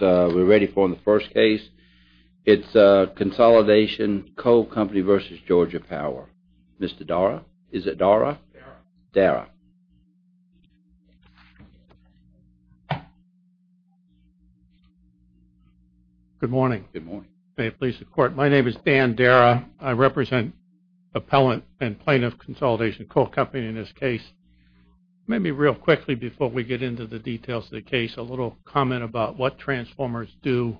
We're ready for the first case. It's Consolidation Coal Company v. Georgia Power. Mr. Darra? Is it Darra? Darra. Good morning. May it please the Court. My name is Dan Darra. I represent Appellant and Plaintiff Consolidation Coal Company in this case. Maybe real quickly before we get into the details of the case, a little comment about what transformers do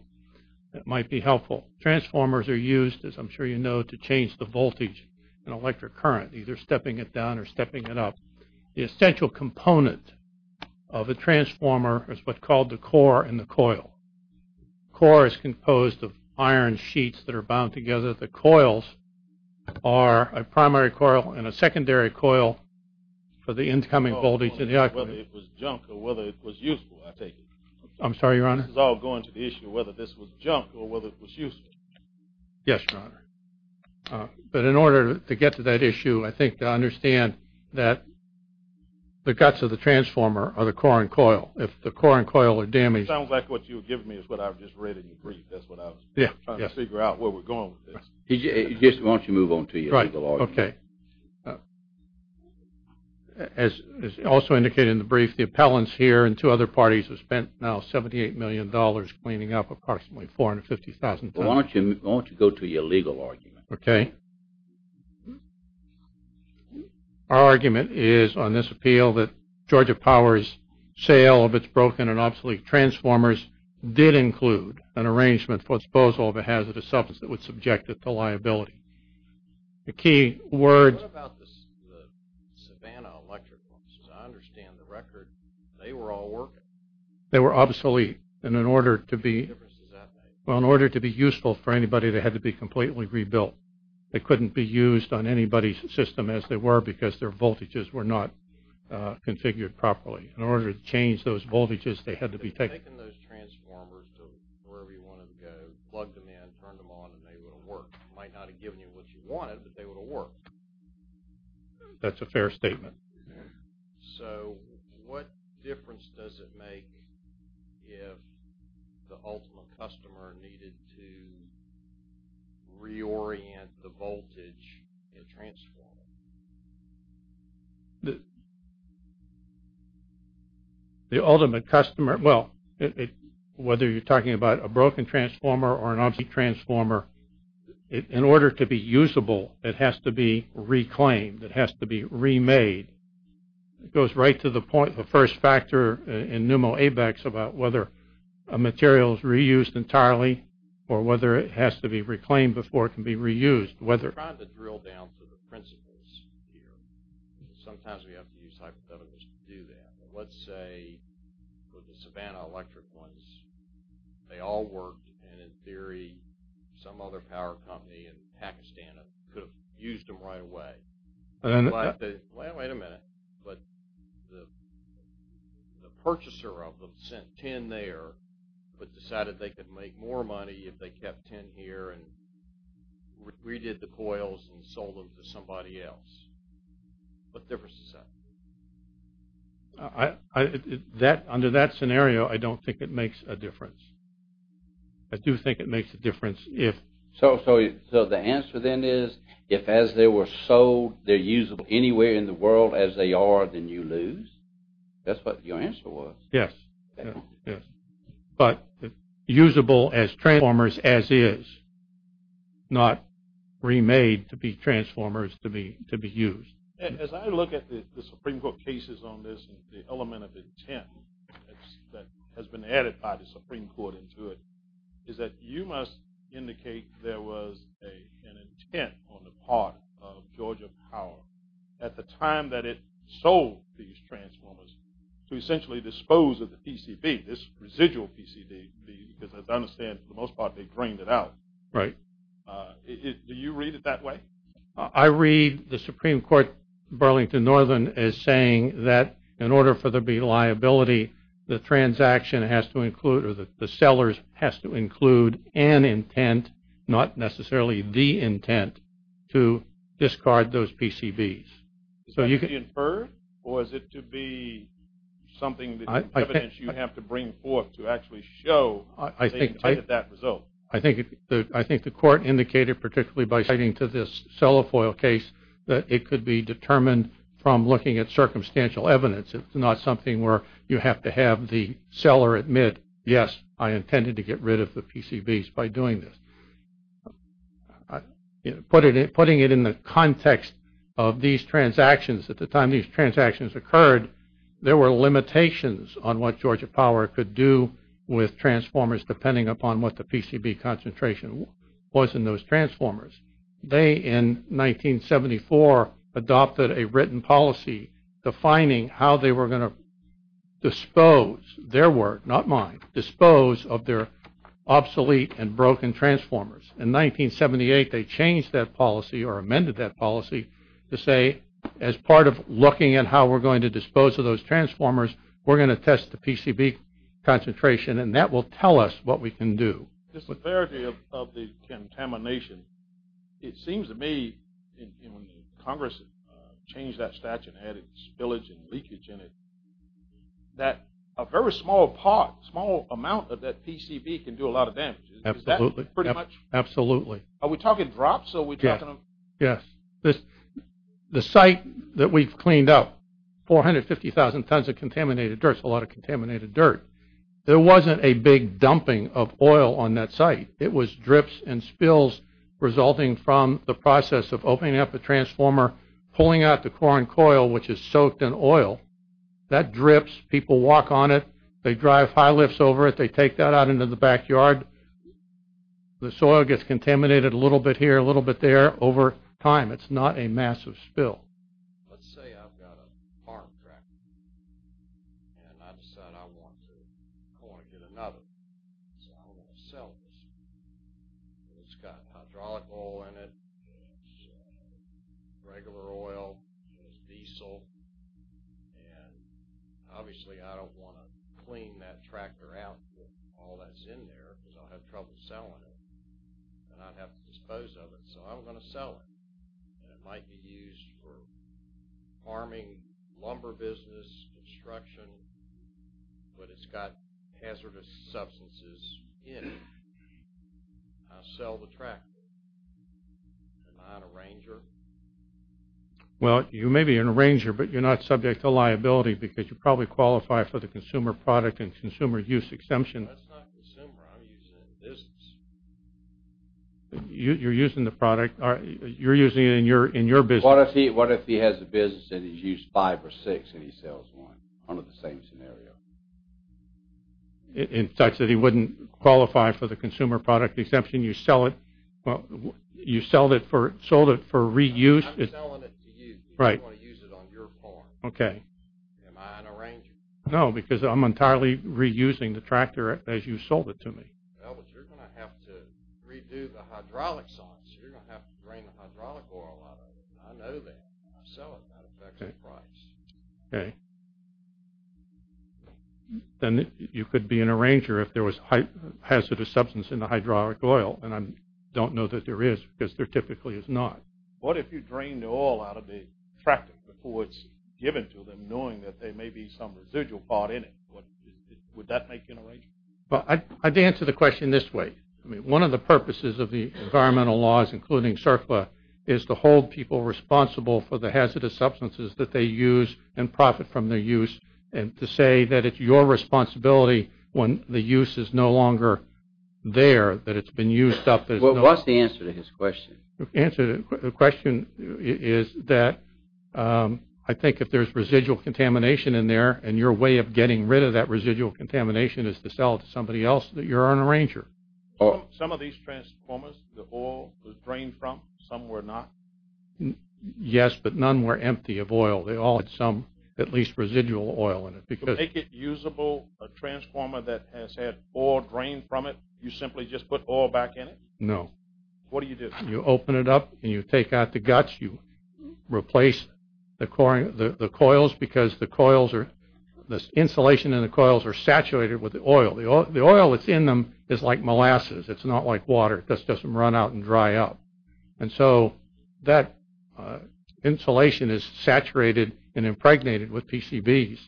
that might be helpful. Transformers are used, as I'm sure you know, to change the voltage in an electric current, either stepping it down or stepping it up. The essential component of a transformer is what's called the core and the coil. The core is composed of iron sheets that are bound together. The question is whether the coils are a primary coil and a secondary coil for the incoming voltage. Whether it was junk or whether it was useful, I take it. I'm sorry, Your Honor? This is all going to the issue of whether this was junk or whether it was useful. Yes, Your Honor. But in order to get to that issue, I think to understand that the guts of the transformer are the core and coil. If the core and coil are damaged... It sounds like what you were giving me is what I just read in your brief. That's what I was trying to figure out where we're going with this. Just why don't you move on to your legal argument. Right. Okay. As also indicated in the brief, the appellants here and two other parties have spent now $78 million cleaning up approximately 450,000 tons. Why don't you go to your legal argument? Okay. Our argument is on this appeal that Georgia Power's sale of its broken and obsolete transformers did include an arrangement for disposal of a hazardous substance that would subject it to liability. The key words... What about the Savannah electric ones? As I understand the record, they were all working. They were obsolete. And in order to be... What difference does that make? Well, in order to be useful for anybody, they had to be completely rebuilt. They couldn't be used on anybody's system as they were because their voltages were not configured properly. In order to change those voltages, they had to be taken... They've taken those transformers to wherever you wanted to go, plugged them in, turned them on, and they would have worked. They might not have given you what you wanted, but they would have worked. That's a fair statement. So, what difference does it make if the ultimate customer needed to reorient the voltage in a transformer? The ultimate customer... Well, whether you're talking about a broken transformer or an obsolete transformer, in order to be usable, it has to be reclaimed. It has to be remade. It goes right to the point, the first factor in NUMO-ABEX, about whether a material is reused entirely or whether it has to be reclaimed before it can be reused. I'm trying to drill down to the principles here. Sometimes we have to use hypotheticals to do that. Let's say, with the Savannah electric ones, they all worked. And in theory, some other power company in Pakistan could have used them right away. Wait a minute. But the purchaser of them sent 10 there, but decided they could make more money if they kept 10 here and redid the coils and sold them to somebody else. What difference does that make? Under that scenario, I don't think it makes a difference. I do think it makes a difference if... So the answer then is, if as they were sold, they're usable anywhere in the world as they are, then you lose? That's what your answer was. Yes. But usable as transformers as is, not remade to be transformers to be used. As I look at the Supreme Court cases on this, the element of intent that has been added by the Supreme Court into it is that you must indicate there was an intent on the part of Georgia Power at the time that it sold these transformers to essentially dispose of the PCB, this residual PCB, because as I understand, for the most part, they drained it out. Right. Do you read it that way? I read the Supreme Court Burlington Northern as saying that in order for there to be liability, the transaction has to include or the sellers has to include an intent, not necessarily the intent, to discard those PCBs. Is that to be inferred, or is it to be something that you have to bring forth to actually show they intended that result? I think the court indicated, particularly by citing to this cellophoil case, that it could be determined from looking at circumstantial evidence. It's not something where you have to have the seller admit, yes, I intended to get rid of the PCBs by doing this. Putting it in the context of these transactions, at the time these transactions occurred, there were limitations on what Georgia Power could do with transformers, depending upon what the PCB concentration was in those transformers. They, in 1974, adopted a written policy defining how they were going to dispose, their work, not mine, dispose of their obsolete and broken transformers. In 1978, they changed that policy or amended that policy to say, as part of looking at how we're going to dispose of those transformers, we're going to test the PCB concentration, and that will tell us what we can do. The severity of the contamination, it seems to me, when Congress changed that statute and added spillage and leakage in it, that a very small part, small amount of that PCB can do a lot of damage. Absolutely. Is that pretty much? Absolutely. Are we talking drops? Yes. Yes. The site that we've cleaned up, 450,000 tons of contaminated dirt. It's a lot of contaminated dirt. There wasn't a big dumping of oil on that site. It was drips and spills resulting from the process of opening up the transformer, pulling out the corn coil, which is soaked in oil. That drips. People walk on it. They drive high lifts over it. They take that out into the backyard. The soil gets contaminated a little bit here, a little bit there over time. It's not a massive spill. Let's say I've got a farm tractor, and I decide I want to get another. So I'm going to sell this. It's got hydraulic oil in it. It's regular oil. It's diesel. And obviously, I don't want to clean that tractor out. All that's in there, because I'll have trouble selling it, and I'd have to dispose of it. So I'm going to sell it. It might be used for farming, lumber business, construction, but it's got hazardous substances in it. I'll sell the tractor. Am I an arranger? Well, you may be an arranger, but you're not subject to liability because you probably qualify for the consumer product and consumer use exemption. That's not consumer. I'm using it in business. You're using the product. You're using it in your business. What if he has a business, and he's used five or six, and he sells one under the same scenario? In such that he wouldn't qualify for the consumer product exemption. You sold it for reuse. I'm selling it to you because I want to use it on your farm. Okay. Am I an arranger? No, because I'm entirely reusing the tractor as you sold it to me. Well, but you're going to have to redo the hydraulics on it, so you're going to have to drain the hydraulic oil out of it. I know that. I sell it. That affects the price. Okay. Then you could be an arranger if there was hazardous substance in the hydraulic oil, and I don't know that there is because there typically is not. What if you drained the oil out of the tractor before it's given to them, knowing that there may be some residual part in it? Would that make you an arranger? I'd answer the question this way. One of the purposes of the environmental laws, including SERPA, is to hold people responsible for the hazardous substances that they use and profit from their use, and to say that it's your responsibility when the use is no longer there, that it's been used up. What's the answer to his question? The answer to the question is that I think if there's residual contamination in there and your way of getting rid of that residual contamination is to sell it to somebody else, that you're an arranger. Some of these transformers, the oil was drained from? Some were not? Yes, but none were empty of oil. They all had some at least residual oil in it. To make it usable, a transformer that has had oil drained from it, you simply just put oil back in it? No. What do you do? You open it up and you take out the guts. You replace the coils because the insulation in the coils are saturated with the oil. The oil that's in them is like molasses. It's not like water. It just doesn't run out and dry up. And so that insulation is saturated and impregnated with PCBs.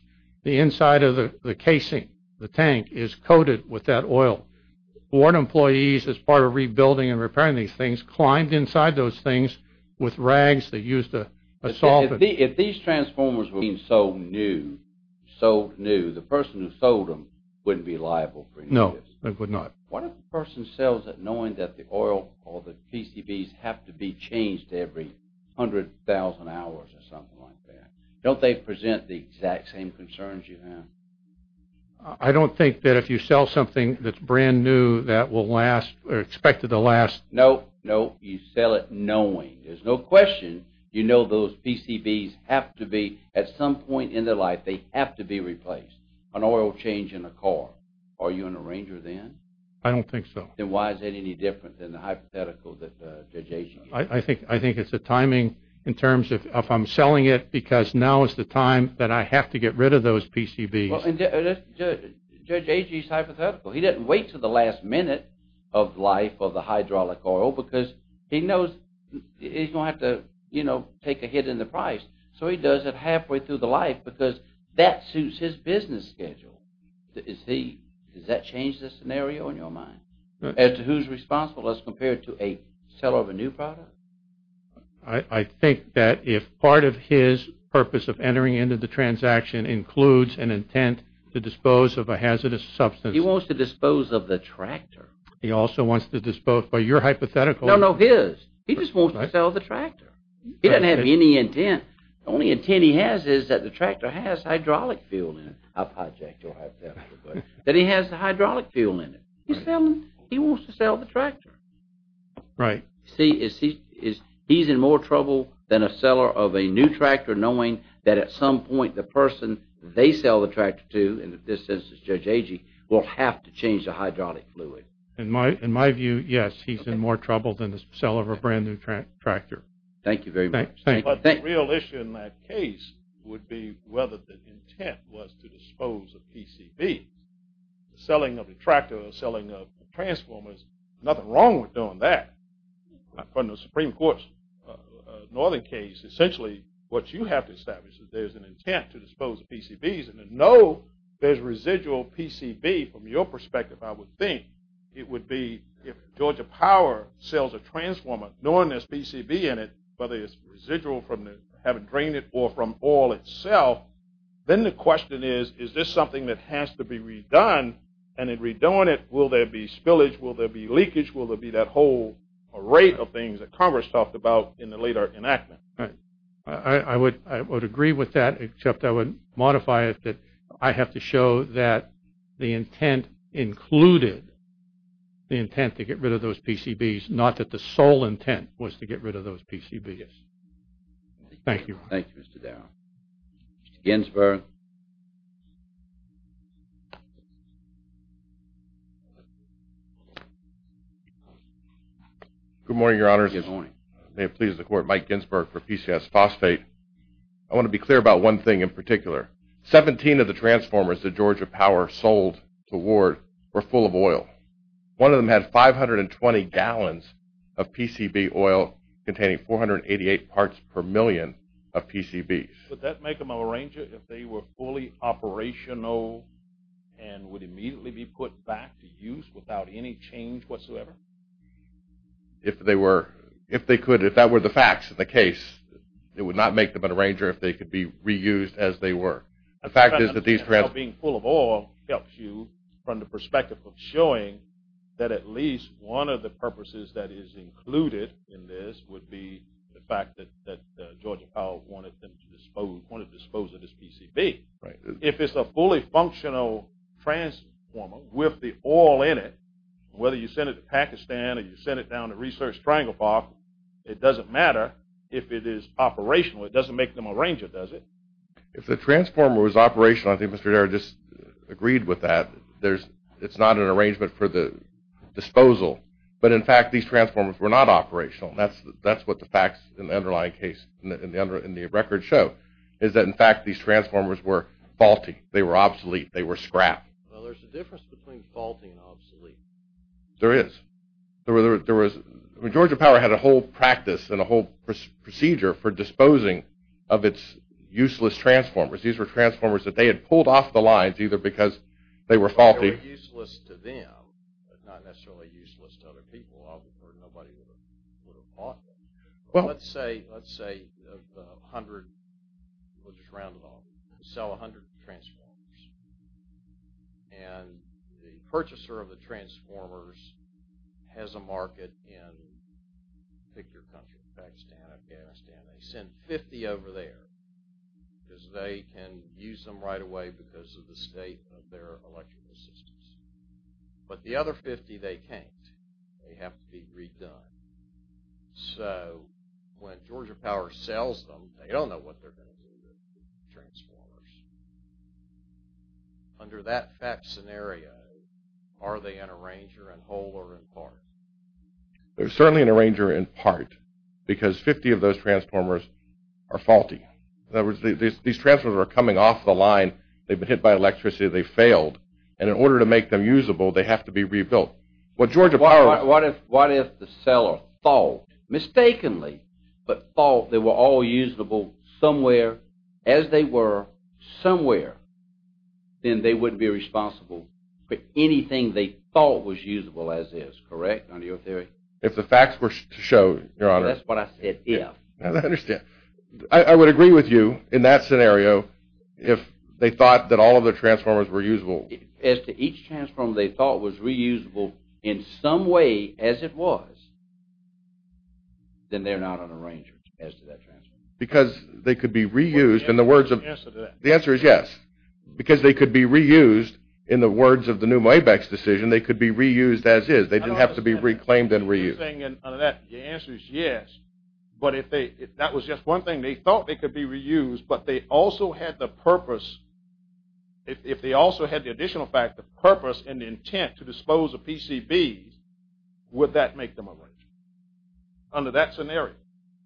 The inside of the casing, the tank, is coated with that oil. Board employees, as part of rebuilding and repairing these things, climbed inside those things with rags that used a solvent. If these transformers were being sold new, the person who sold them wouldn't be liable for any of this? No, they would not. What if a person sells it knowing that the oil or the PCBs have to be changed every 100,000 hours or something like that? Don't they present the exact same concerns you have? I don't think that if you sell something that's brand new that will last or expected to last. No, no, you sell it knowing. There's no question. You know those PCBs have to be at some point in their life, they have to be replaced. An oil change in a car. Are you an arranger then? I don't think so. Then why is that any different than the hypothetical that Judge Ashen gave? I think it's the timing in terms of if I'm selling it because now is the time that I have to get rid of those PCBs. Judge Ashen's hypothetical. He didn't wait until the last minute of life of the hydraulic oil because he knows he's going to have to, you know, take a hit in the price. So he does it halfway through the life because that suits his business schedule. Does that change the scenario in your mind as to who's responsible as compared to a seller of a new product? I think that if part of his purpose of entering into the transaction includes an intent to dispose of a hazardous substance. He wants to dispose of the tractor. He also wants to dispose of your hypothetical. No, no, his. He just wants to sell the tractor. He doesn't have any intent. The only intent he has is that the tractor has hydraulic fuel in it. I project your hypothetical. That he has the hydraulic fuel in it. He wants to sell the tractor. Right. See, he's in more trouble than a seller of a new tractor knowing that at some point the person they sell the tractor to, in this instance Judge Agee, will have to change the hydraulic fluid. In my view, yes. He's in more trouble than the seller of a brand new tractor. Thank you very much. Thank you. But the real issue in that case would be whether the intent was to dispose of PCB. The selling of the tractor, the selling of the transformers, nothing wrong with doing that. From the Supreme Court's northern case, essentially what you have to establish is there's an intent to dispose of PCBs and to know there's residual PCB from your perspective, I would think. It would be if Georgia Power sells a transformer knowing there's PCB in it, whether it's residual from having drained it or from oil itself, then the question is, is this something that has to be redone? And in redoing it, will there be spillage? Will there be leakage? Will there be that whole array of things that Congress talked about in the later enactment? I would agree with that except I would modify it that I have to show that the intent included the intent to get rid of those PCBs, not that the sole intent was to get rid of those PCBs. Yes. Thank you. Thank you, Mr. Darrow. Mr. Ginsberg. Good morning, Your Honors. Good morning. May it please the Court, Mike Ginsberg for PCS Phosphate. I want to be clear about one thing in particular. Seventeen of the transformers that Georgia Power sold to Ward were full of oil. One of them had 520 gallons of PCB oil containing 488 parts per million of PCBs. Would that make them an arranger if they were fully operational and would immediately be put back to use without any change whatsoever? If they were, if they could, if that were the facts of the case, it would not make them an arranger if they could be reused as they were. The fact is that these transformers... Being full of oil helps you from the perspective of showing that at least one of the purposes that is included in this would be the fact that Georgia Power wanted them to dispose, wanted to dispose of this PCB. Right. If it's a fully functional transformer with the oil in it, whether you send it to Pakistan or you send it down to Research Triangle Park, it doesn't matter if it is operational. It doesn't make them an arranger, does it? If the transformer was operational, I think Mr. Darragh just agreed with that, it's not an arrangement for the disposal. But, in fact, these transformers were not operational. That's what the facts in the underlying case, in the record show, is that, in fact, these transformers were faulty. They were obsolete. They were scrap. Well, there's a difference between faulty and obsolete. There is. There was, Georgia Power had a whole practice and a whole procedure for getting its useless transformers. These were transformers that they had pulled off the lines, either because they were faulty. Well, they were useless to them, but not necessarily useless to other people. I would have heard nobody would have bought them. Well, let's say 100, we'll just round it off, sell 100 transformers. And the purchaser of the transformers has a market in, pick your country, Pakistan, Afghanistan. They send 50 over there because they can use them right away because of the state of their electrical systems. But the other 50 they can't. They have to be redone. So, when Georgia Power sells them, they don't know what they're going to do with the transformers. Under that fact scenario, are they an arranger in whole or in part? They're certainly an arranger in part because 50 of those transformers are faulty. In other words, these transformers are coming off the line. They've been hit by electricity. They failed. And in order to make them usable, they have to be rebuilt. What if the seller thought, mistakenly, but thought they were all usable somewhere as they were somewhere, then they wouldn't be responsible for anything they thought was usable as is, correct, under your theory? If the facts were to show, Your Honor. That's what I said, if. I understand. I would agree with you in that scenario, if they thought that all of the transformers were usable. As to each transformer they thought was reusable in some way as it was, then they're not an arranger as to that transformer. Because they could be reused in the words of – What's the answer to that? The answer is yes. Because they could be reused in the words of the new Moebeck's decision, they could be reused as is. They didn't have to be reclaimed and reused. Your answer is yes. But if that was just one thing, they thought they could be reused, but they also had the purpose, if they also had the additional fact, the purpose and the intent to dispose of PCBs, would that make them an arranger under that scenario?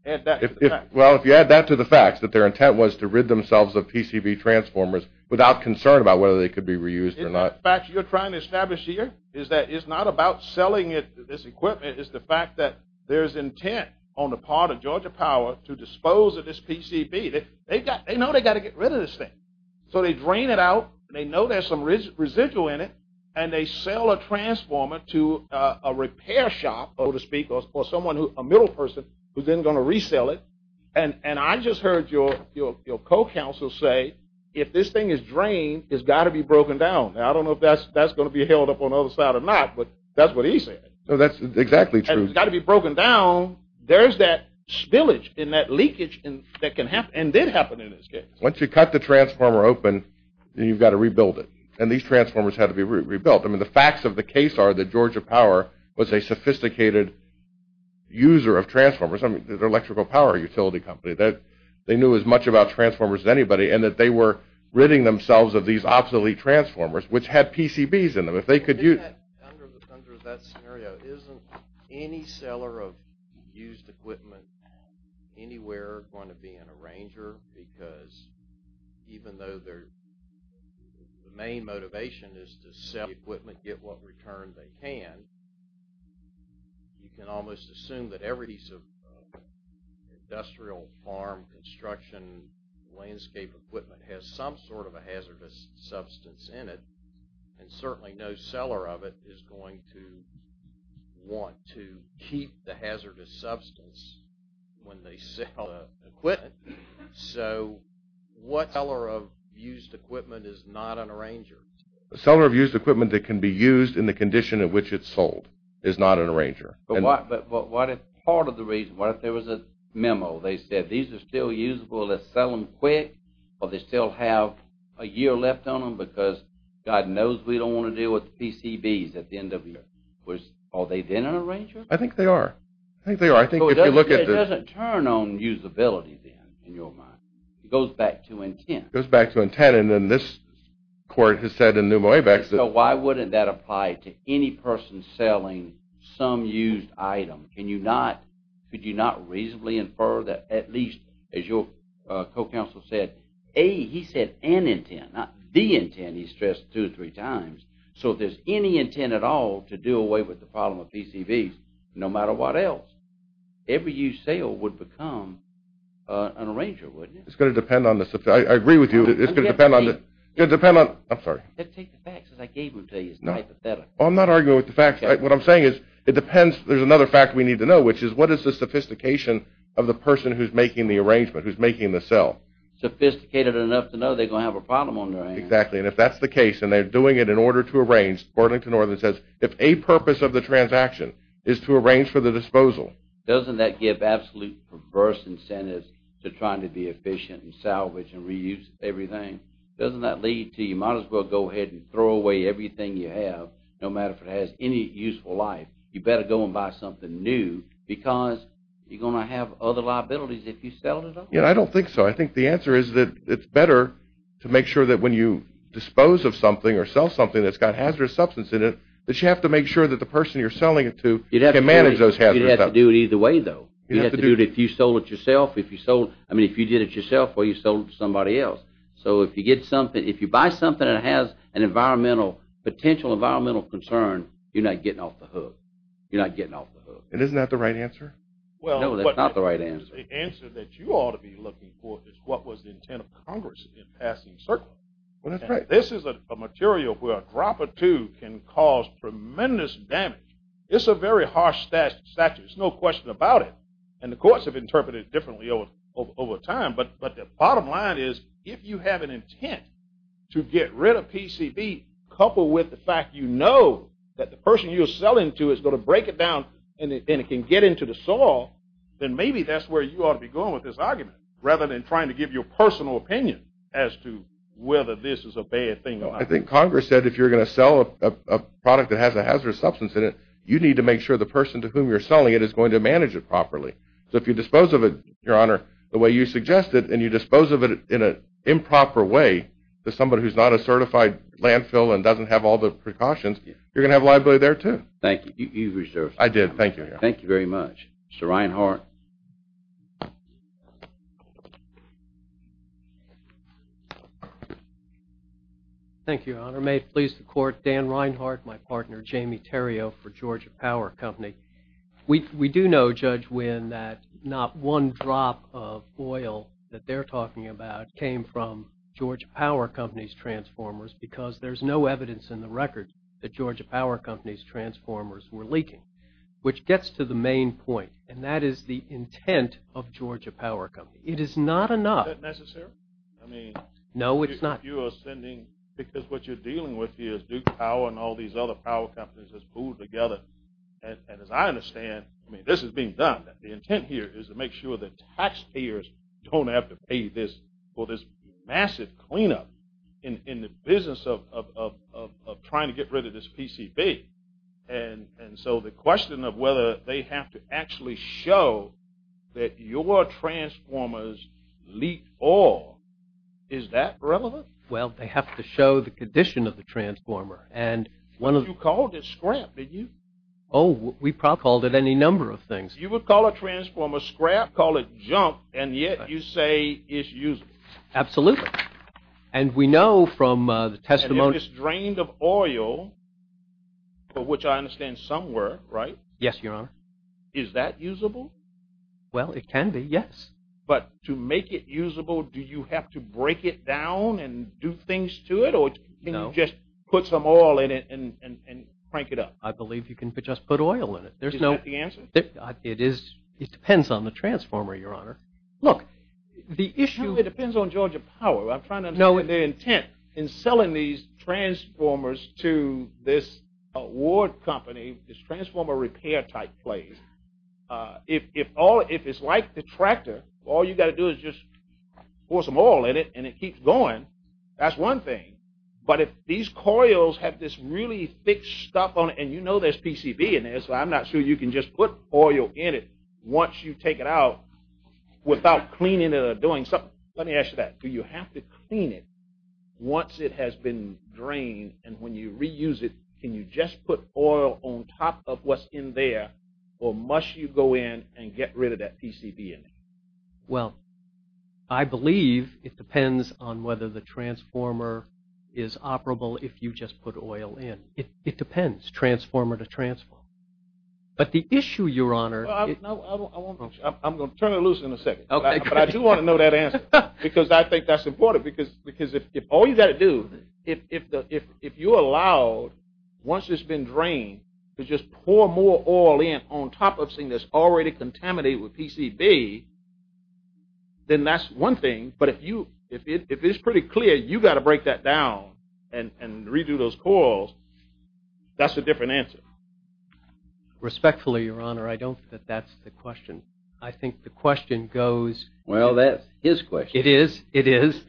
Well, if you add that to the facts, that their intent was to rid themselves of PCB transformers without concern about whether they could be reused or not. The fact you're trying to establish here is that it's not about selling this equipment, it's the fact that there's intent on the part of Georgia Power to dispose of this PCB. They know they've got to get rid of this thing. So they drain it out, they know there's some residual in it, and they sell a transformer to a repair shop, so to speak, or a middle person who's then going to resell it. And I just heard your co-counsel say if this thing is drained, it's got to be broken down. Now, I don't know if that's going to be held up on the other side or not, but that's what he said. That's exactly true. It's got to be broken down. There's that spillage and that leakage that can happen, and did happen in this case. Once you cut the transformer open, then you've got to rebuild it. And these transformers had to be rebuilt. I mean, the facts of the case are that Georgia Power was a sophisticated user of transformers. I mean, they're an electrical power utility company. They knew as much about transformers as anybody and that they were ridding themselves of these obsolete transformers, which had PCBs in them. If they could use it. Under that scenario, isn't any seller of used equipment anywhere going to be an arranger? Because even though the main motivation is to sell equipment, get what return they can, you can almost assume that every piece of industrial, farm, construction, landscape equipment has some sort of a hazardous substance in it, and certainly no seller of it is going to want to keep the hazardous substance when they sell equipment. So what seller of used equipment is not an arranger? A seller of used equipment that can be used in the condition in which it's sold is not an arranger. But what if part of the reason, what if there was a memo, they said these are still usable, let's sell them quick, or they still have a year left on them because God knows we don't want to deal with the PCBs at the end of the year. Are they then an arranger? I think they are. I think they are. It doesn't turn on usability then, in your mind. It goes back to intent. It goes back to intent. And then this court has said in Neumo AVEX that... So why wouldn't that apply to any person selling some used item? Could you not reasonably infer that at least, as your co-counsel said, A, he said an intent, not the intent he stressed two or three times. So if there's any intent at all to do away with the problem of PCBs, no matter what else, every used sale would become an arranger, wouldn't it? It's going to depend on the... I agree with you. It's going to depend on... I'm sorry. Take the facts as I gave them to you. It's not hypothetical. I'm not arguing with the facts. What I'm saying is it depends. There's another fact we need to know, which is what is the sophistication of the person who's making the arrangement, who's making the sale? Sophisticated enough to know they're going to have a problem on their hands. Exactly. And if that's the case and they're doing it in order to arrange, Burlington Northern says, if a purpose of the transaction is to arrange for the disposal... Doesn't that give absolute perverse incentives to trying to be efficient and salvage and reuse everything? Doesn't that lead to you might as well go ahead and throw away everything you have, no matter if it has any useful life? You better go and buy something new because you're going to have other liabilities if you sell it all. I don't think so. I think the answer is that it's better to make sure that when you dispose of something or sell something that's got hazardous substance in it that you have to make sure that the person you're selling it to can manage those hazards. You'd have to do it either way, though. You'd have to do it if you sold it yourself. I mean, if you did it yourself or you sold it to somebody else. So if you get something, if you buy something that has an environmental, potential environmental concern, you're not getting off the hook. You're not getting off the hook. And isn't that the right answer? No, that's not the right answer. The answer that you ought to be looking for is what was the intent of Congress in passing CERCLA. This is a material where a drop or two can cause tremendous damage. It's a very harsh statute. There's no question about it. And the courts have interpreted it differently over time. But the bottom line is if you have an intent to get rid of PCB coupled with the fact you know that the person you're selling to is going to break it down and it can get into the soil, then maybe that's where you ought to be going with this argument rather than trying to give your personal opinion as to whether this is a bad thing or not. I think Congress said if you're going to sell a product that has a hazardous substance in it, you need to make sure the person to whom you're selling it is going to manage it properly. So if you dispose of it, Your Honor, the way you suggested, and you dispose of it in an improper way to somebody who's not a certified landfill and doesn't have all the precautions, you're going to have liability there, too. Thank you. You've reserved time. I did. Thank you. Thank you very much. Mr. Reinhart. Thank you, Your Honor. May it please the Court, Dan Reinhart, my partner, Jamie Terrio for Georgia Power Company. We do know, Judge Wynn, that not one drop of oil that they're talking about came from Georgia Power Company's transformers because there's no evidence in the record that Georgia Power Company's transformers were leaking, which gets to the main point, and that is the intent of Georgia Power Company. It is not enough. Is that necessary? No, it's not. Because what you're dealing with here is Duke Power and all these other power companies that's pooled together, and as I understand, I mean, this is being done. The intent here is to make sure that taxpayers don't have to pay for this massive cleanup in the business of trying to get rid of this PCB. And so the question of whether they have to actually show that your transformers leaked oil, is that relevant? You called it scrap, did you? Oh, we probably called it any number of things. You would call a transformer scrap, call it junk, and yet you say it's usable. Absolutely. And we know from the testimony. And if it's drained of oil, which I understand some were, right? Yes, Your Honor. Is that usable? Well, it can be, yes. But to make it usable, do you have to break it down and do things to it, or can you just put some oil in it and crank it up? I believe you can just put oil in it. Is that the answer? It depends on the transformer, Your Honor. Look, the issue... It depends on Georgia Power. I'm trying to understand their intent in selling these transformers to this award company, this transformer repair type place. If it's like the tractor, all you got to do is just pour some oil in it and it keeps going, that's one thing. But if these coils have this really thick stuff on it, and you know there's PCB in there, so I'm not sure you can just put oil in it once you take it out without cleaning it or doing something. Let me ask you that. Do you have to clean it once it has been drained? And when you reuse it, can you just put oil on top of what's in there, or must you go in and get rid of that PCB in there? Well, I believe it depends on whether the transformer is operable if you just put oil in. It depends, transformer to transformer. But the issue, Your Honor... I'm going to turn it loose in a second, but I do want to know that answer because I think that's important because if all you got to do, if you're allowed, once it's been drained, is just pour more oil in on top of something that's already contaminated with PCB, then that's one thing. But if it's pretty clear you got to break that down and redo those coils, that's a different answer. Respectfully, Your Honor, I don't think that's the question. I think the question goes... Well, that's his question. It is, it is.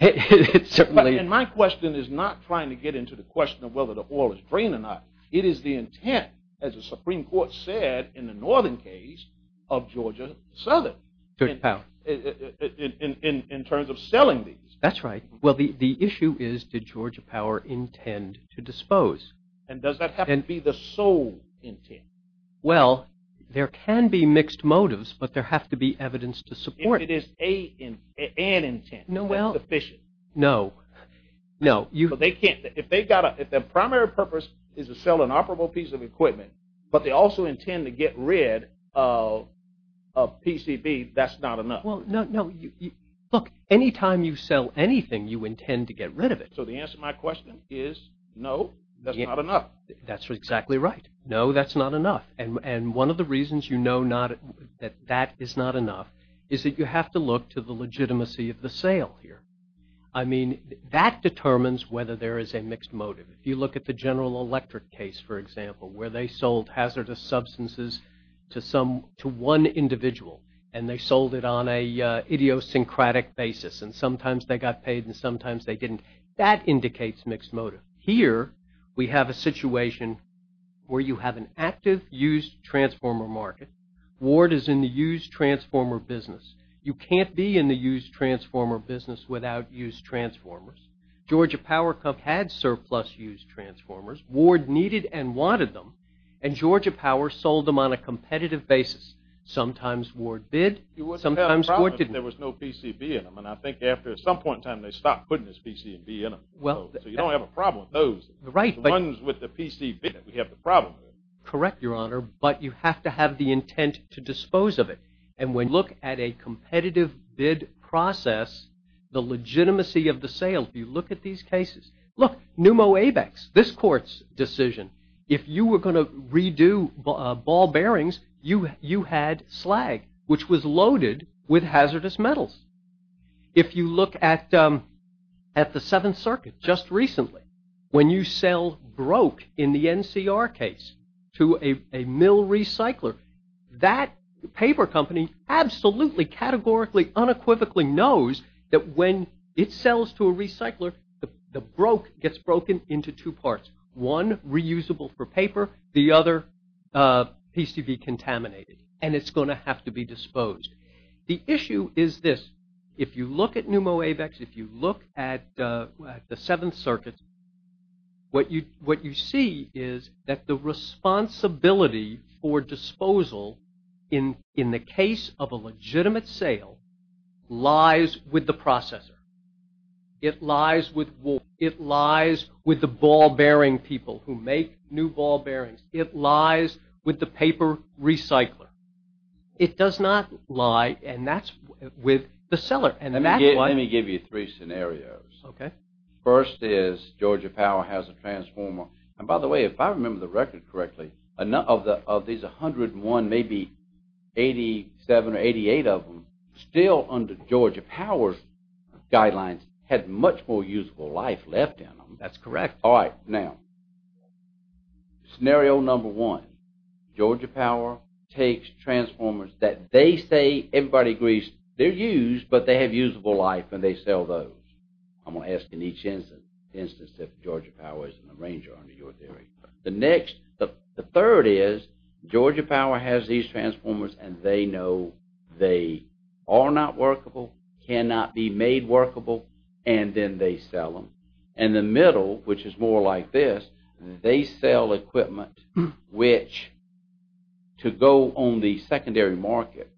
And my question is not trying to get into the question of whether the oil is drained or not. It is the intent, as the Supreme Court said in the Northern case of Georgia Southern. In terms of selling these. That's right. Well, the issue is, did Georgia Power intend to dispose? And does that have to be the sole intent? Well, there can be mixed motives, but there has to be evidence to support it. If it is an intent. No. No. No. If their primary purpose is to sell an operable piece of equipment, but they also intend to get rid of PCB, that's not enough. Well, no. Look, anytime you sell anything, you intend to get rid of it. So the answer to my question is, no, that's not enough. That's exactly right. No, that's not enough. And one of the reasons you know that that is not enough is that you have to look to the legitimacy of the sale here. I mean, that determines whether there is a mixed motive. If you look at the General Electric case, for example, where they sold hazardous substances to one individual and they sold it on an idiosyncratic basis and sometimes they got paid and sometimes they didn't, that indicates mixed motive. Here, we have a situation where you have an active used transformer market. Ward is in the used transformer business. You can't be in the used transformer business without used transformers. Georgia Power had surplus used transformers. Ward needed and wanted them. And Georgia Power sold them on a competitive basis. Sometimes Ward didn't. You wouldn't have a problem if there was no PCB in them. And I think after some point in time, they stopped putting this PCB in them. So you don't have a problem with those. The ones with the PCB, we have the problem with. Correct, Your Honor. But you have to have the intent to dispose of it. And when you look at a competitive bid process, the legitimacy of the sale, if you look at these cases, look, Pneumo ABEX, this court's decision. If you were going to redo ball bearings, you had slag, which was loaded with hazardous metals. If you look at the Seventh Circuit just recently, when you sell broke in the NCR case to a mill recycler, that paper company absolutely, categorically, unequivocally knows that when it sells to a recycler, the broke gets broken into two parts, one reusable for paper, the other PCB contaminated. And it's going to have to be disposed. The issue is this. If you look at Pneumo ABEX, if you look at the Seventh Circuit, what you see is that the responsibility for disposal in the case of a legitimate sale lies with the processor. It lies with the ball bearing people who make new ball bearings. It lies with the paper recycler. It does not lie with the seller. Let me give you three scenarios. Okay. First is Georgia Power has a transformer. And by the way, if I remember the record correctly, of these 101, maybe 87 or 88 of them, still under Georgia Power's guidelines had much more usable life left in them. That's correct. All right. Now, scenario number one, Georgia Power takes transformers that they say everybody agrees they're used, but they have usable life and they sell those. I'm going to ask in each instance if Georgia Power is an arranger under your theory. The third is Georgia Power has these transformers and they know they are not workable, cannot be made workable, and then they sell them. And the middle, which is more like this, they sell equipment which to go on the secondary market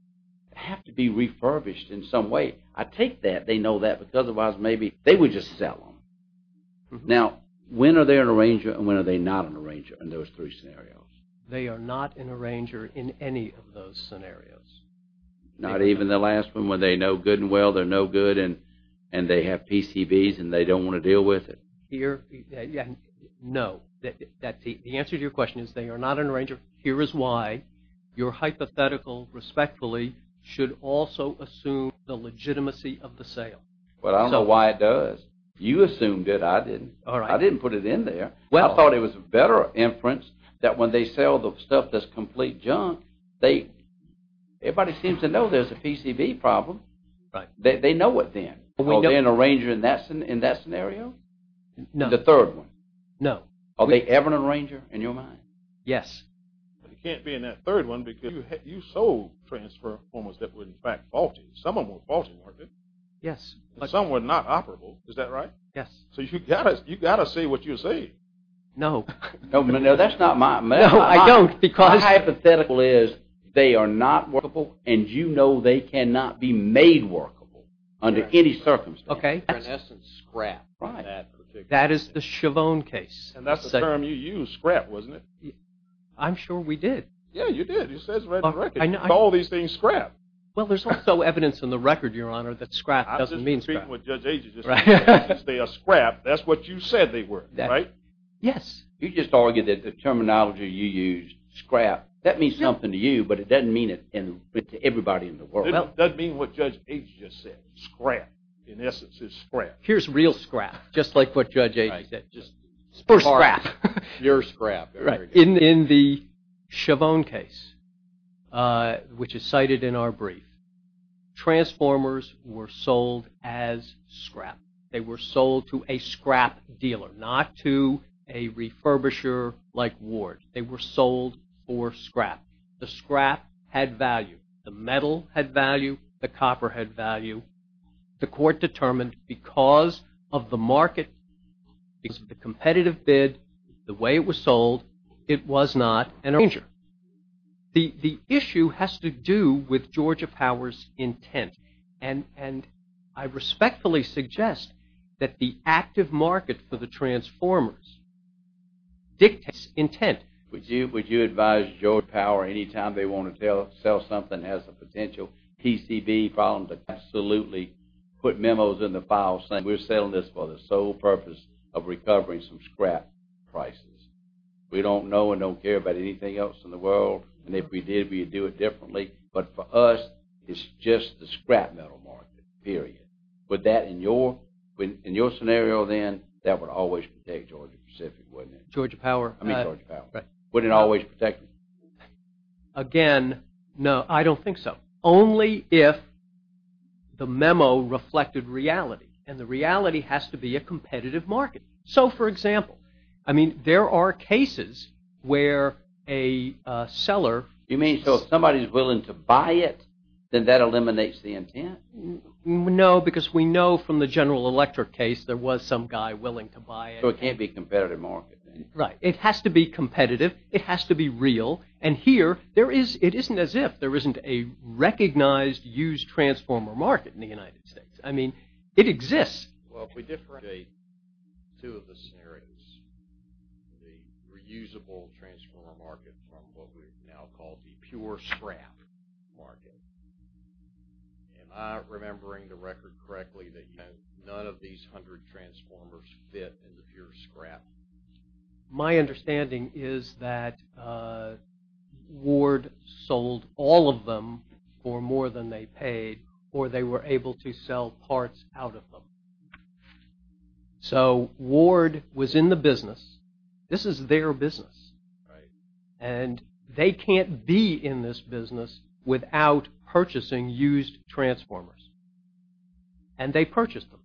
have to be refurbished in some way. I take that they know that because otherwise maybe they would just sell them. Now, when are they an arranger and when are they not an arranger in those three scenarios? They are not an arranger in any of those scenarios. Not even the last one where they know good and well they're no good and they have PCBs and they don't want to deal with it? No. The answer to your question is they are not an arranger. Here is why your hypothetical, respectfully, should also assume the legitimacy of the sale. Well, I don't know why it does. You assumed it. I didn't. I didn't put it in there. I thought it was a better inference that when they sell the stuff that's complete junk, everybody seems to know there's a PCB problem. They know it then. Are they an arranger in that scenario? No. The third one? No. Are they ever an arranger in your mind? Yes. But it can't be in that third one because you sold transformers that were in fact faulty. Some of them were faulty, weren't they? Yes. Some were not operable. Is that right? Yes. So you've got to say what you say. No. No, that's not my method. No, I don't because… My hypothetical is they are not workable and you know they cannot be made workable under any circumstance. Okay. They're in essence scrap. Right. That is the Chavone case. And that's the term you used, scrap, wasn't it? I'm sure we did. Yeah, you did. It says right on the record. You call these things scrap. Well, there's also evidence in the record, Your Honor, that scrap doesn't mean scrap. I'm just treating what Judge Agee just said. If they are scrap, that's what you said they were, right? Yes. You just argued that the terminology you used, scrap, that means something to you but it doesn't mean it to everybody in the world. It doesn't mean what Judge Agee just said. Scrap, in essence, is scrap. Here's real scrap, just like what Judge Agee said. Pure scrap. Pure scrap. Right. In the Chavone case, which is cited in our brief, transformers were sold as scrap. They were sold to a scrap dealer, not to a refurbisher like Ward. They were sold for scrap. The scrap had value. The metal had value. The copper had value. The court determined because of the market, because of the competitive bid, the way it was sold, it was not an arranger. The issue has to do with Georgia Power's intent, and I respectfully suggest that the active market for the transformers dictates its intent. Would you advise Georgia Power, anytime they want to sell something that has a potential PCB problem, to absolutely put memos in the file saying we're selling this for the sole purpose of recovering some scrap prices? We don't know and don't care about anything else in the world, and if we did, we'd do it differently. But for us, it's just the scrap metal market, period. In your scenario then, that would always protect Georgia Pacific, wouldn't it? Georgia Power? I mean Georgia Power. Would it always protect them? Again, no, I don't think so. Only if the memo reflected reality, and the reality has to be a competitive market. So, for example, I mean, there are cases where a seller… You mean, so if somebody's willing to buy it, then that eliminates the intent? No, because we know from the General Electric case, there was some guy willing to buy it. So it can't be a competitive market then? Right, it has to be competitive, it has to be real, and here, it isn't as if there isn't a recognized used transformer market in the United States. I mean, it exists. Well, if we differentiate two of the scenarios, the reusable transformer market from what we now call the pure scrap market, am I remembering the record correctly that none of these hundred transformers fit in the pure scrap? My understanding is that Ward sold all of them for more than they paid, or they were able to sell parts out of them. So Ward was in the business, this is their business, and they can't be in this business without purchasing used transformers, and they purchased them.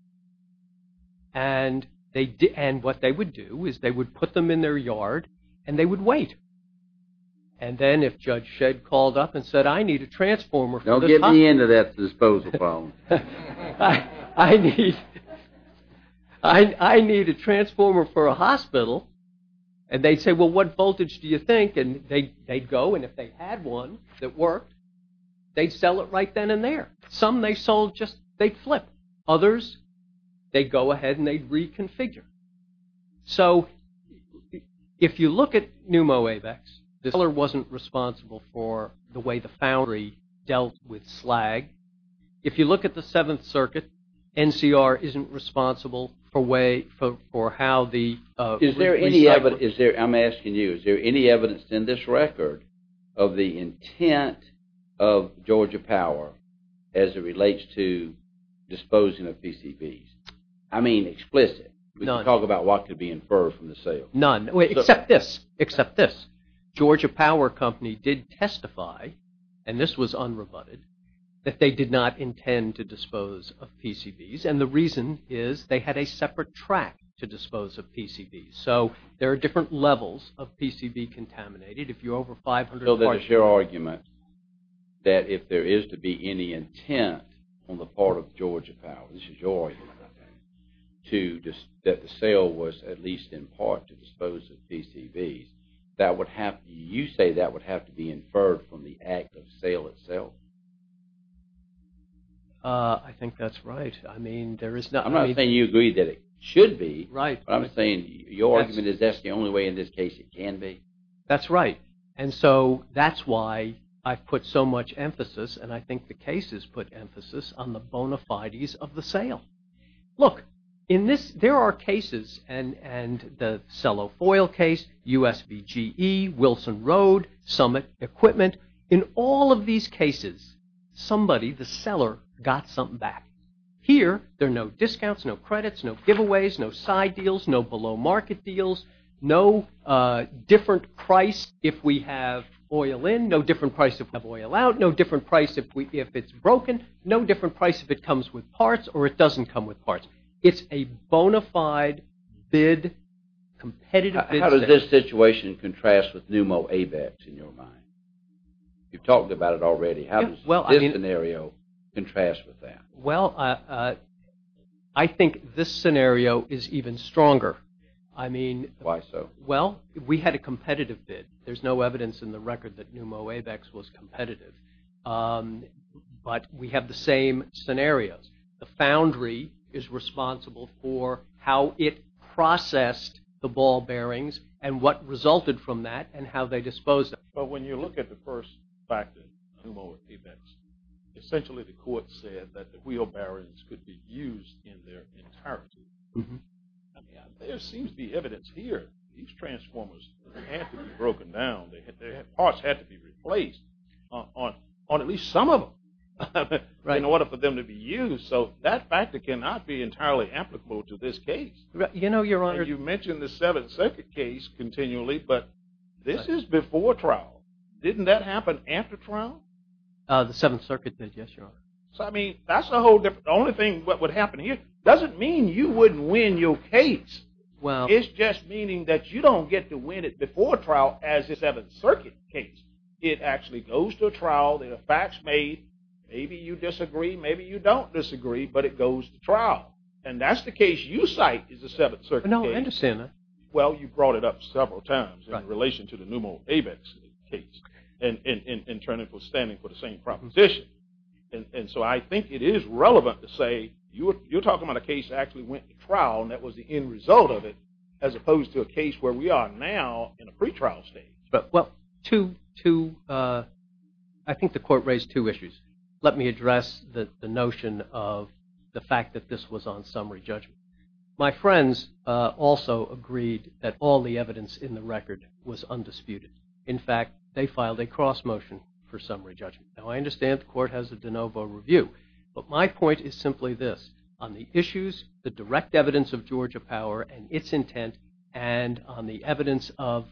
And what they would do is they would put them in their yard, and they would wait. And then if Judge Shedd called up and said, I need a transformer… Don't get me into that disposal problem. I need a transformer for a hospital, and they'd say, well, what voltage do you think? And they'd go, and if they had one that worked, they'd sell it right then and there. Some they sold just, they'd flip. Others, they'd go ahead and they'd reconfigure. So if you look at pneumoavex, the seller wasn't responsible for the way the foundry dealt with slag. If you look at the Seventh Circuit, NCR isn't responsible for how the… Is there any evidence, I'm asking you, is there any evidence in this record of the intent of Georgia Power as it relates to disposing of PCBs? I mean explicit. None. Talk about what could be inferred from the sale. None, except this, except this. Georgia Power Company did testify, and this was unrebutted, that they did not intend to dispose of PCBs, and the reason is they had a separate track to dispose of PCBs. So there are different levels of PCB contaminated. If you're over 500… So there's your argument that if there is to be any intent on the part of Georgia Power, this is your argument, I think, that the sale was at least in part to dispose of PCBs, you say that would have to be inferred from the act of sale itself. I think that's right. I'm not saying you agree that it should be, but I'm saying your argument is that's the only way in this case it can be. That's right, and so that's why I've put so much emphasis, and I think the case has put emphasis on the bona fides of the sale. Look, there are cases, and the cello foil case, USBGE, Wilson Road, Summit Equipment, in all of these cases, somebody, the seller, got something back. Here, there are no discounts, no credits, no giveaways, no side deals, no below market deals, no different price if we have oil in, no different price if we have oil out, no different price if it's broken, no different price if it comes with parts or it doesn't come with parts. It's a bona fide bid, competitive bid sale. How does this situation contrast with Pneumo AVEX in your mind? You've talked about it already. How does this scenario contrast with that? Well, I think this scenario is even stronger. Why so? Well, we had a competitive bid. There's no evidence in the record that Pneumo AVEX was competitive, but we have the same scenarios. The foundry is responsible for how it processed the ball bearings and what resulted from that and how they disposed of it. But when you look at the first factor, Pneumo AVEX, essentially the court said that the wheel bearings could be used in their entirety. I mean, there seems to be evidence here. These transformers had to be broken down. Parts had to be replaced on at least some of them in order for them to be used. So that factor cannot be entirely applicable to this case. You mentioned the Seventh Circuit case continually, but this is before trial. Didn't that happen after trial? The Seventh Circuit did, yes, Your Honor. So, I mean, that's the whole difference. The only thing that would happen here doesn't mean you wouldn't win your case. Well. It's just meaning that you don't get to win it before trial as a Seventh Circuit case. It actually goes to trial. There are facts made. Maybe you disagree. Maybe you don't disagree, but it goes to trial. And that's the case you cite is the Seventh Circuit case. No, I understand that. Well, you brought it up several times in relation to the Pneumo AVEX case and turning for standing for the same proposition. And so I think it is relevant to say you're talking about a case that actually went to trial and that was the end result of it as opposed to a case where we are now in a pretrial state. Well, I think the court raised two issues. Let me address the notion of the fact that this was on summary judgment. My friends also agreed that all the evidence in the record was undisputed. In fact, they filed a cross motion for summary judgment. Now, I understand the court has a de novo review. But my point is simply this. On the issues, the direct evidence of Georgia power and its intent, and on the evidence of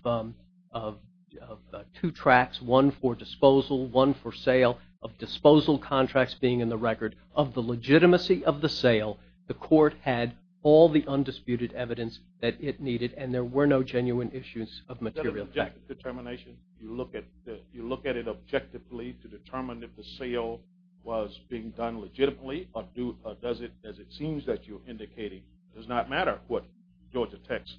two tracks, one for disposal, one for sale, of disposal contracts being in the record, of the legitimacy of the sale, the court had all the undisputed evidence that it needed, and there were no genuine issues of material fact. Is that a legitimate determination? You look at it objectively to determine if the sale was being done legitimately or does it, as it seems that you're indicating, does not matter what Georgia Tech's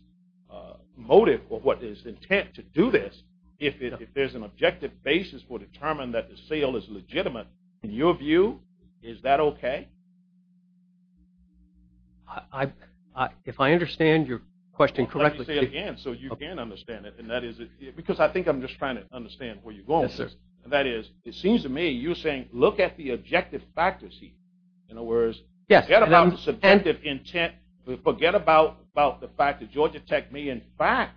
motive or what its intent to do this. If there's an objective basis for determining that the sale is legitimate, in your view, is that okay? If I understand your question correctly. I'll say it again so you can understand it. Because I think I'm just trying to understand where you're going with this. That is, it seems to me you're saying look at the objective factors here. In other words, forget about the subtentive intent. Forget about the fact that Georgia Tech may, in fact,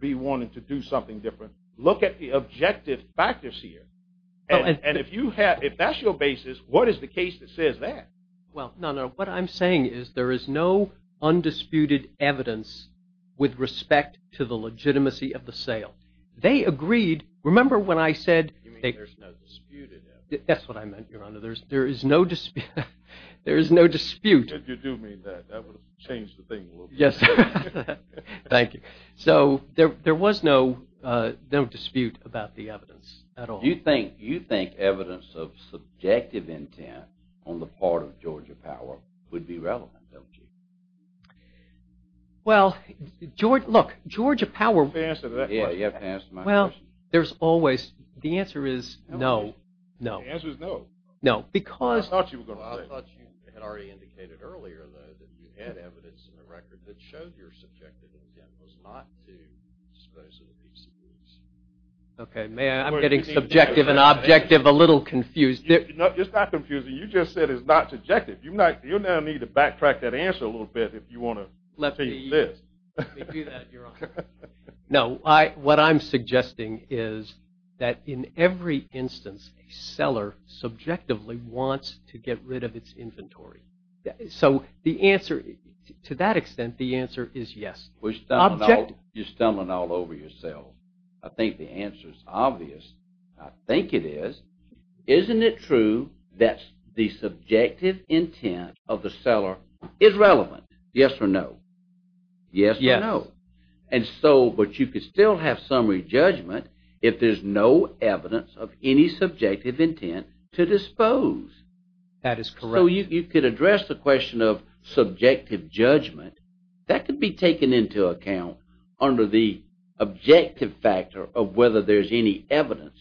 be wanting to do something different. Look at the objective factors here. And if that's your basis, what is the case that says that? Well, no, no. What I'm saying is there is no undisputed evidence with respect to the legitimacy of the sale. They agreed. Remember when I said. You mean there's no disputed evidence. That's what I meant, Your Honor. There is no dispute. You do mean that. That would have changed the thing a little bit. Yes. Thank you. So there was no dispute about the evidence at all. You think evidence of subjective intent on the part of Georgia Power would be relevant, don't you? Well, look, Georgia Power. You have to answer that question. Yes, you have to answer my question. Well, there's always. The answer is no, no. The answer is no. No, because. I thought you were going to say. I thought you had already indicated earlier, though, that you had evidence in the record that showed your subjective intent was not to dispose of the PCPs. Okay. I'm getting subjective and objective a little confused. It's not confusing. You just said it's not subjective. You now need to backtrack that answer a little bit if you want to continue this. Let me do that, Your Honor. No. What I'm suggesting is that in every instance, a seller subjectively wants to get rid of its inventory. So the answer to that extent, the answer is yes. You're stumbling all over yourself. I think the answer is obvious. I think it is. Isn't it true that the subjective intent of the seller is relevant? Yes or no? Yes. Yes. Yes or no? And so, but you could still have summary judgment if there's no evidence of any subjective intent to dispose. That is correct. So you could address the question of subjective judgment. That could be taken into account under the objective factor of whether there's any evidence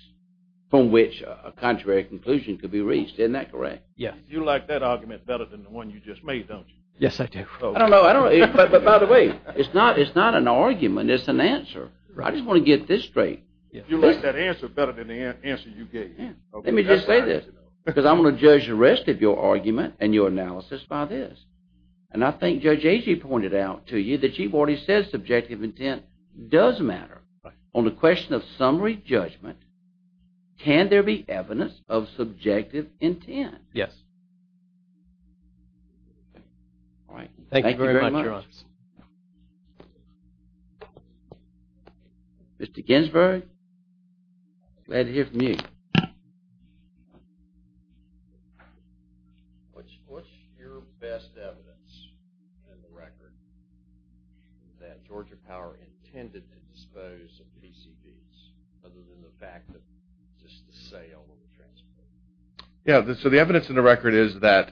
from which a contrary conclusion could be reached. Isn't that correct? Yes. You like that argument better than the one you just made, don't you? Yes, I do. I don't know. By the way, it's not an argument. It's an answer. I just want to get this straight. You like that answer better than the answer you gave. Let me just say this because I'm going to judge the rest of your argument and your analysis by this. And I think Judge Agee pointed out to you that you've already said subjective intent does matter. On the question of summary judgment, can there be evidence of subjective intent? Yes. All right. Thank you very much. Mr. Ginsburg, glad to hear from you. What's your best evidence in the record that Georgia Power intended to dispose of PCBs other than the fact that just the sale of the transformer? Yeah. So the evidence in the record is that,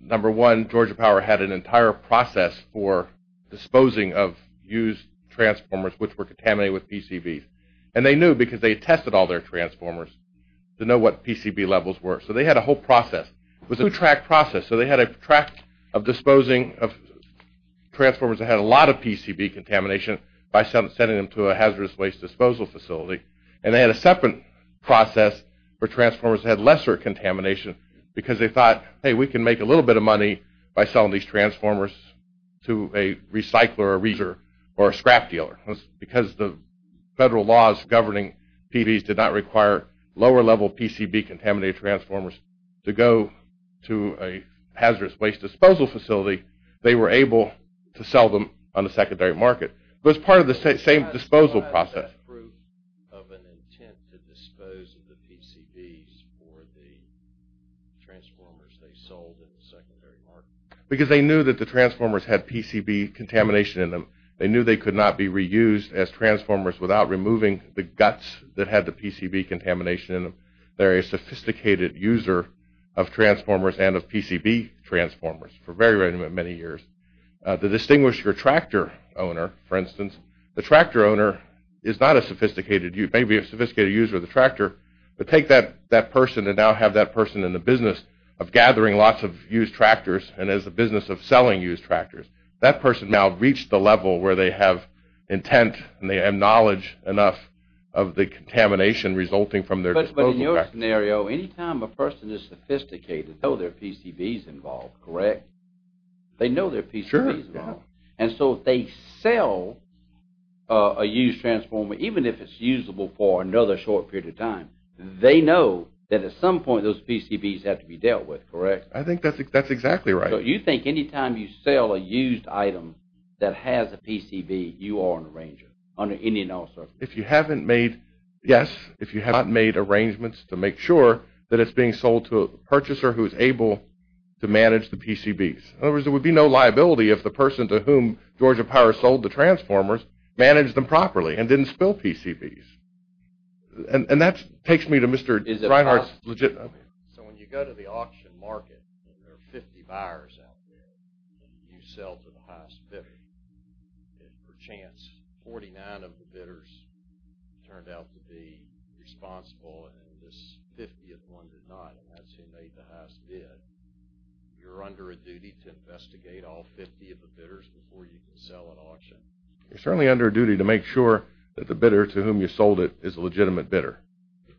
number one, Georgia Power had an entire process for disposing of used transformers which were contaminated with PCBs. And they knew because they tested all their transformers. They knew what PCB levels were. So they had a whole process. It was a two-track process. So they had a track of disposing of transformers that had a lot of PCB contamination by sending them to a hazardous waste disposal facility. And they had a separate process for transformers that had lesser contamination because they thought, hey, we can make a little bit of money by selling these transformers to a recycler or a scrap dealer. Because the federal laws governing PBs did not require lower-level PCB-contaminated transformers to go to a hazardous waste disposal facility, they were able to sell them on the secondary market. It was part of the same disposal process. How does that prove of an intent to dispose of the PCBs for the transformers they sold in the secondary market? Because they knew that the transformers had PCB contamination in them. They knew they could not be reused as transformers without removing the guts that had the PCB contamination in them. They're a sophisticated user of transformers and of PCB transformers for very, very many years. To distinguish your tractor owner, for instance, the tractor owner is not a sophisticated user. Maybe a sophisticated user of the tractor, but take that person and now have that person in the business of gathering lots of used tractors and as a business of selling used tractors. That person now reached the level where they have intent and they have knowledge enough of the contamination resulting from their disposal. But in your scenario, any time a person is sophisticated, they know there are PCBs involved, correct? They know there are PCBs involved. And so if they sell a used transformer, even if it's usable for another short period of time, they know that at some point those PCBs have to be dealt with, correct? I think that's exactly right. So you think any time you sell a used item that has a PCB, you are an arranger under any and all circumstances? Yes, if you have not made arrangements to make sure that it's being sold to a purchaser who is able to manage the PCBs. In other words, there would be no liability if the person to whom Georgia Power sold the transformers managed them properly and didn't spill PCBs. And that takes me to Mr. Reinhart's legitimacy. So when you go to the auction market and there are 50 buyers out there and you sell to the highest bidder, and perchance 49 of the bidders turned out to be responsible and this 50th one did not, and that's who made the highest bid, you're under a duty to investigate all 50 of the bidders before you can sell at auction? You're certainly under a duty to make sure that the bidder to whom you sold it is a legitimate bidder.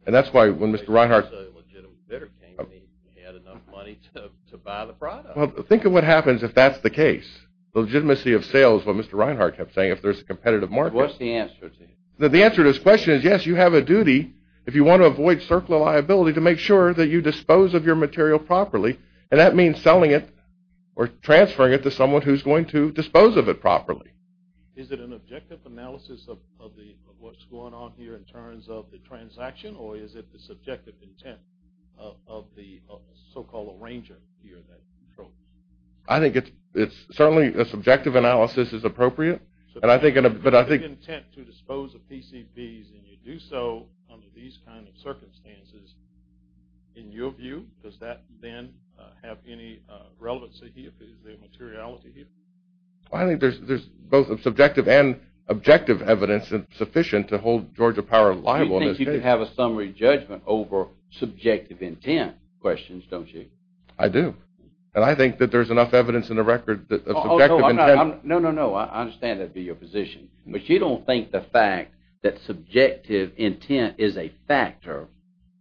And that's why when Mr. Reinhart... When the legitimate bidder came in, he had enough money to buy the product. Well, think of what happens if that's the case. The legitimacy of sales, what Mr. Reinhart kept saying, if there's a competitive market... What's the answer to that? The answer to his question is yes, you have a duty, if you want to avoid circular liability, to make sure that you dispose of your material properly, and that means selling it or transferring it to someone who's going to dispose of it properly. Is it an objective analysis of what's going on here in terms of the transaction, or is it the subjective intent of the so-called arranger here that controls it? I think it's certainly a subjective analysis is appropriate. But I think... So if you have the intent to dispose of PCBs and you do so under these kind of circumstances, in your view, does that then have any relevance to the materiality here? I think there's both subjective and objective evidence sufficient to hold Georgia Power liable in this case. You think you can have a summary judgment over subjective intent questions, don't you? I do. And I think that there's enough evidence in the record that... No, no, no, I understand that would be your position. But you don't think the fact that subjective intent is a factor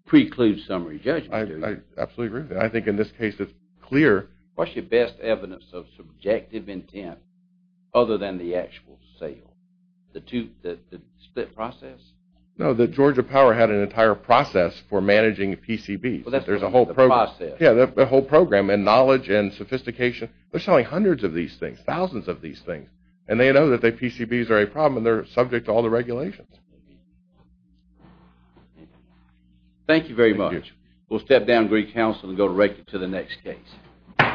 precludes summary judgment, do you? I absolutely agree with you. I think in this case it's clear... What's your best evidence of subjective intent other than the actual sale? The split process? No, that Georgia Power had an entire process for managing PCBs. There's a whole program and knowledge and sophistication. They're selling hundreds of these things, thousands of these things, and they know that the PCBs are a problem and they're subject to all the regulations. Thank you very much. Thank you. We'll step down Greek Council and go directly to the next case.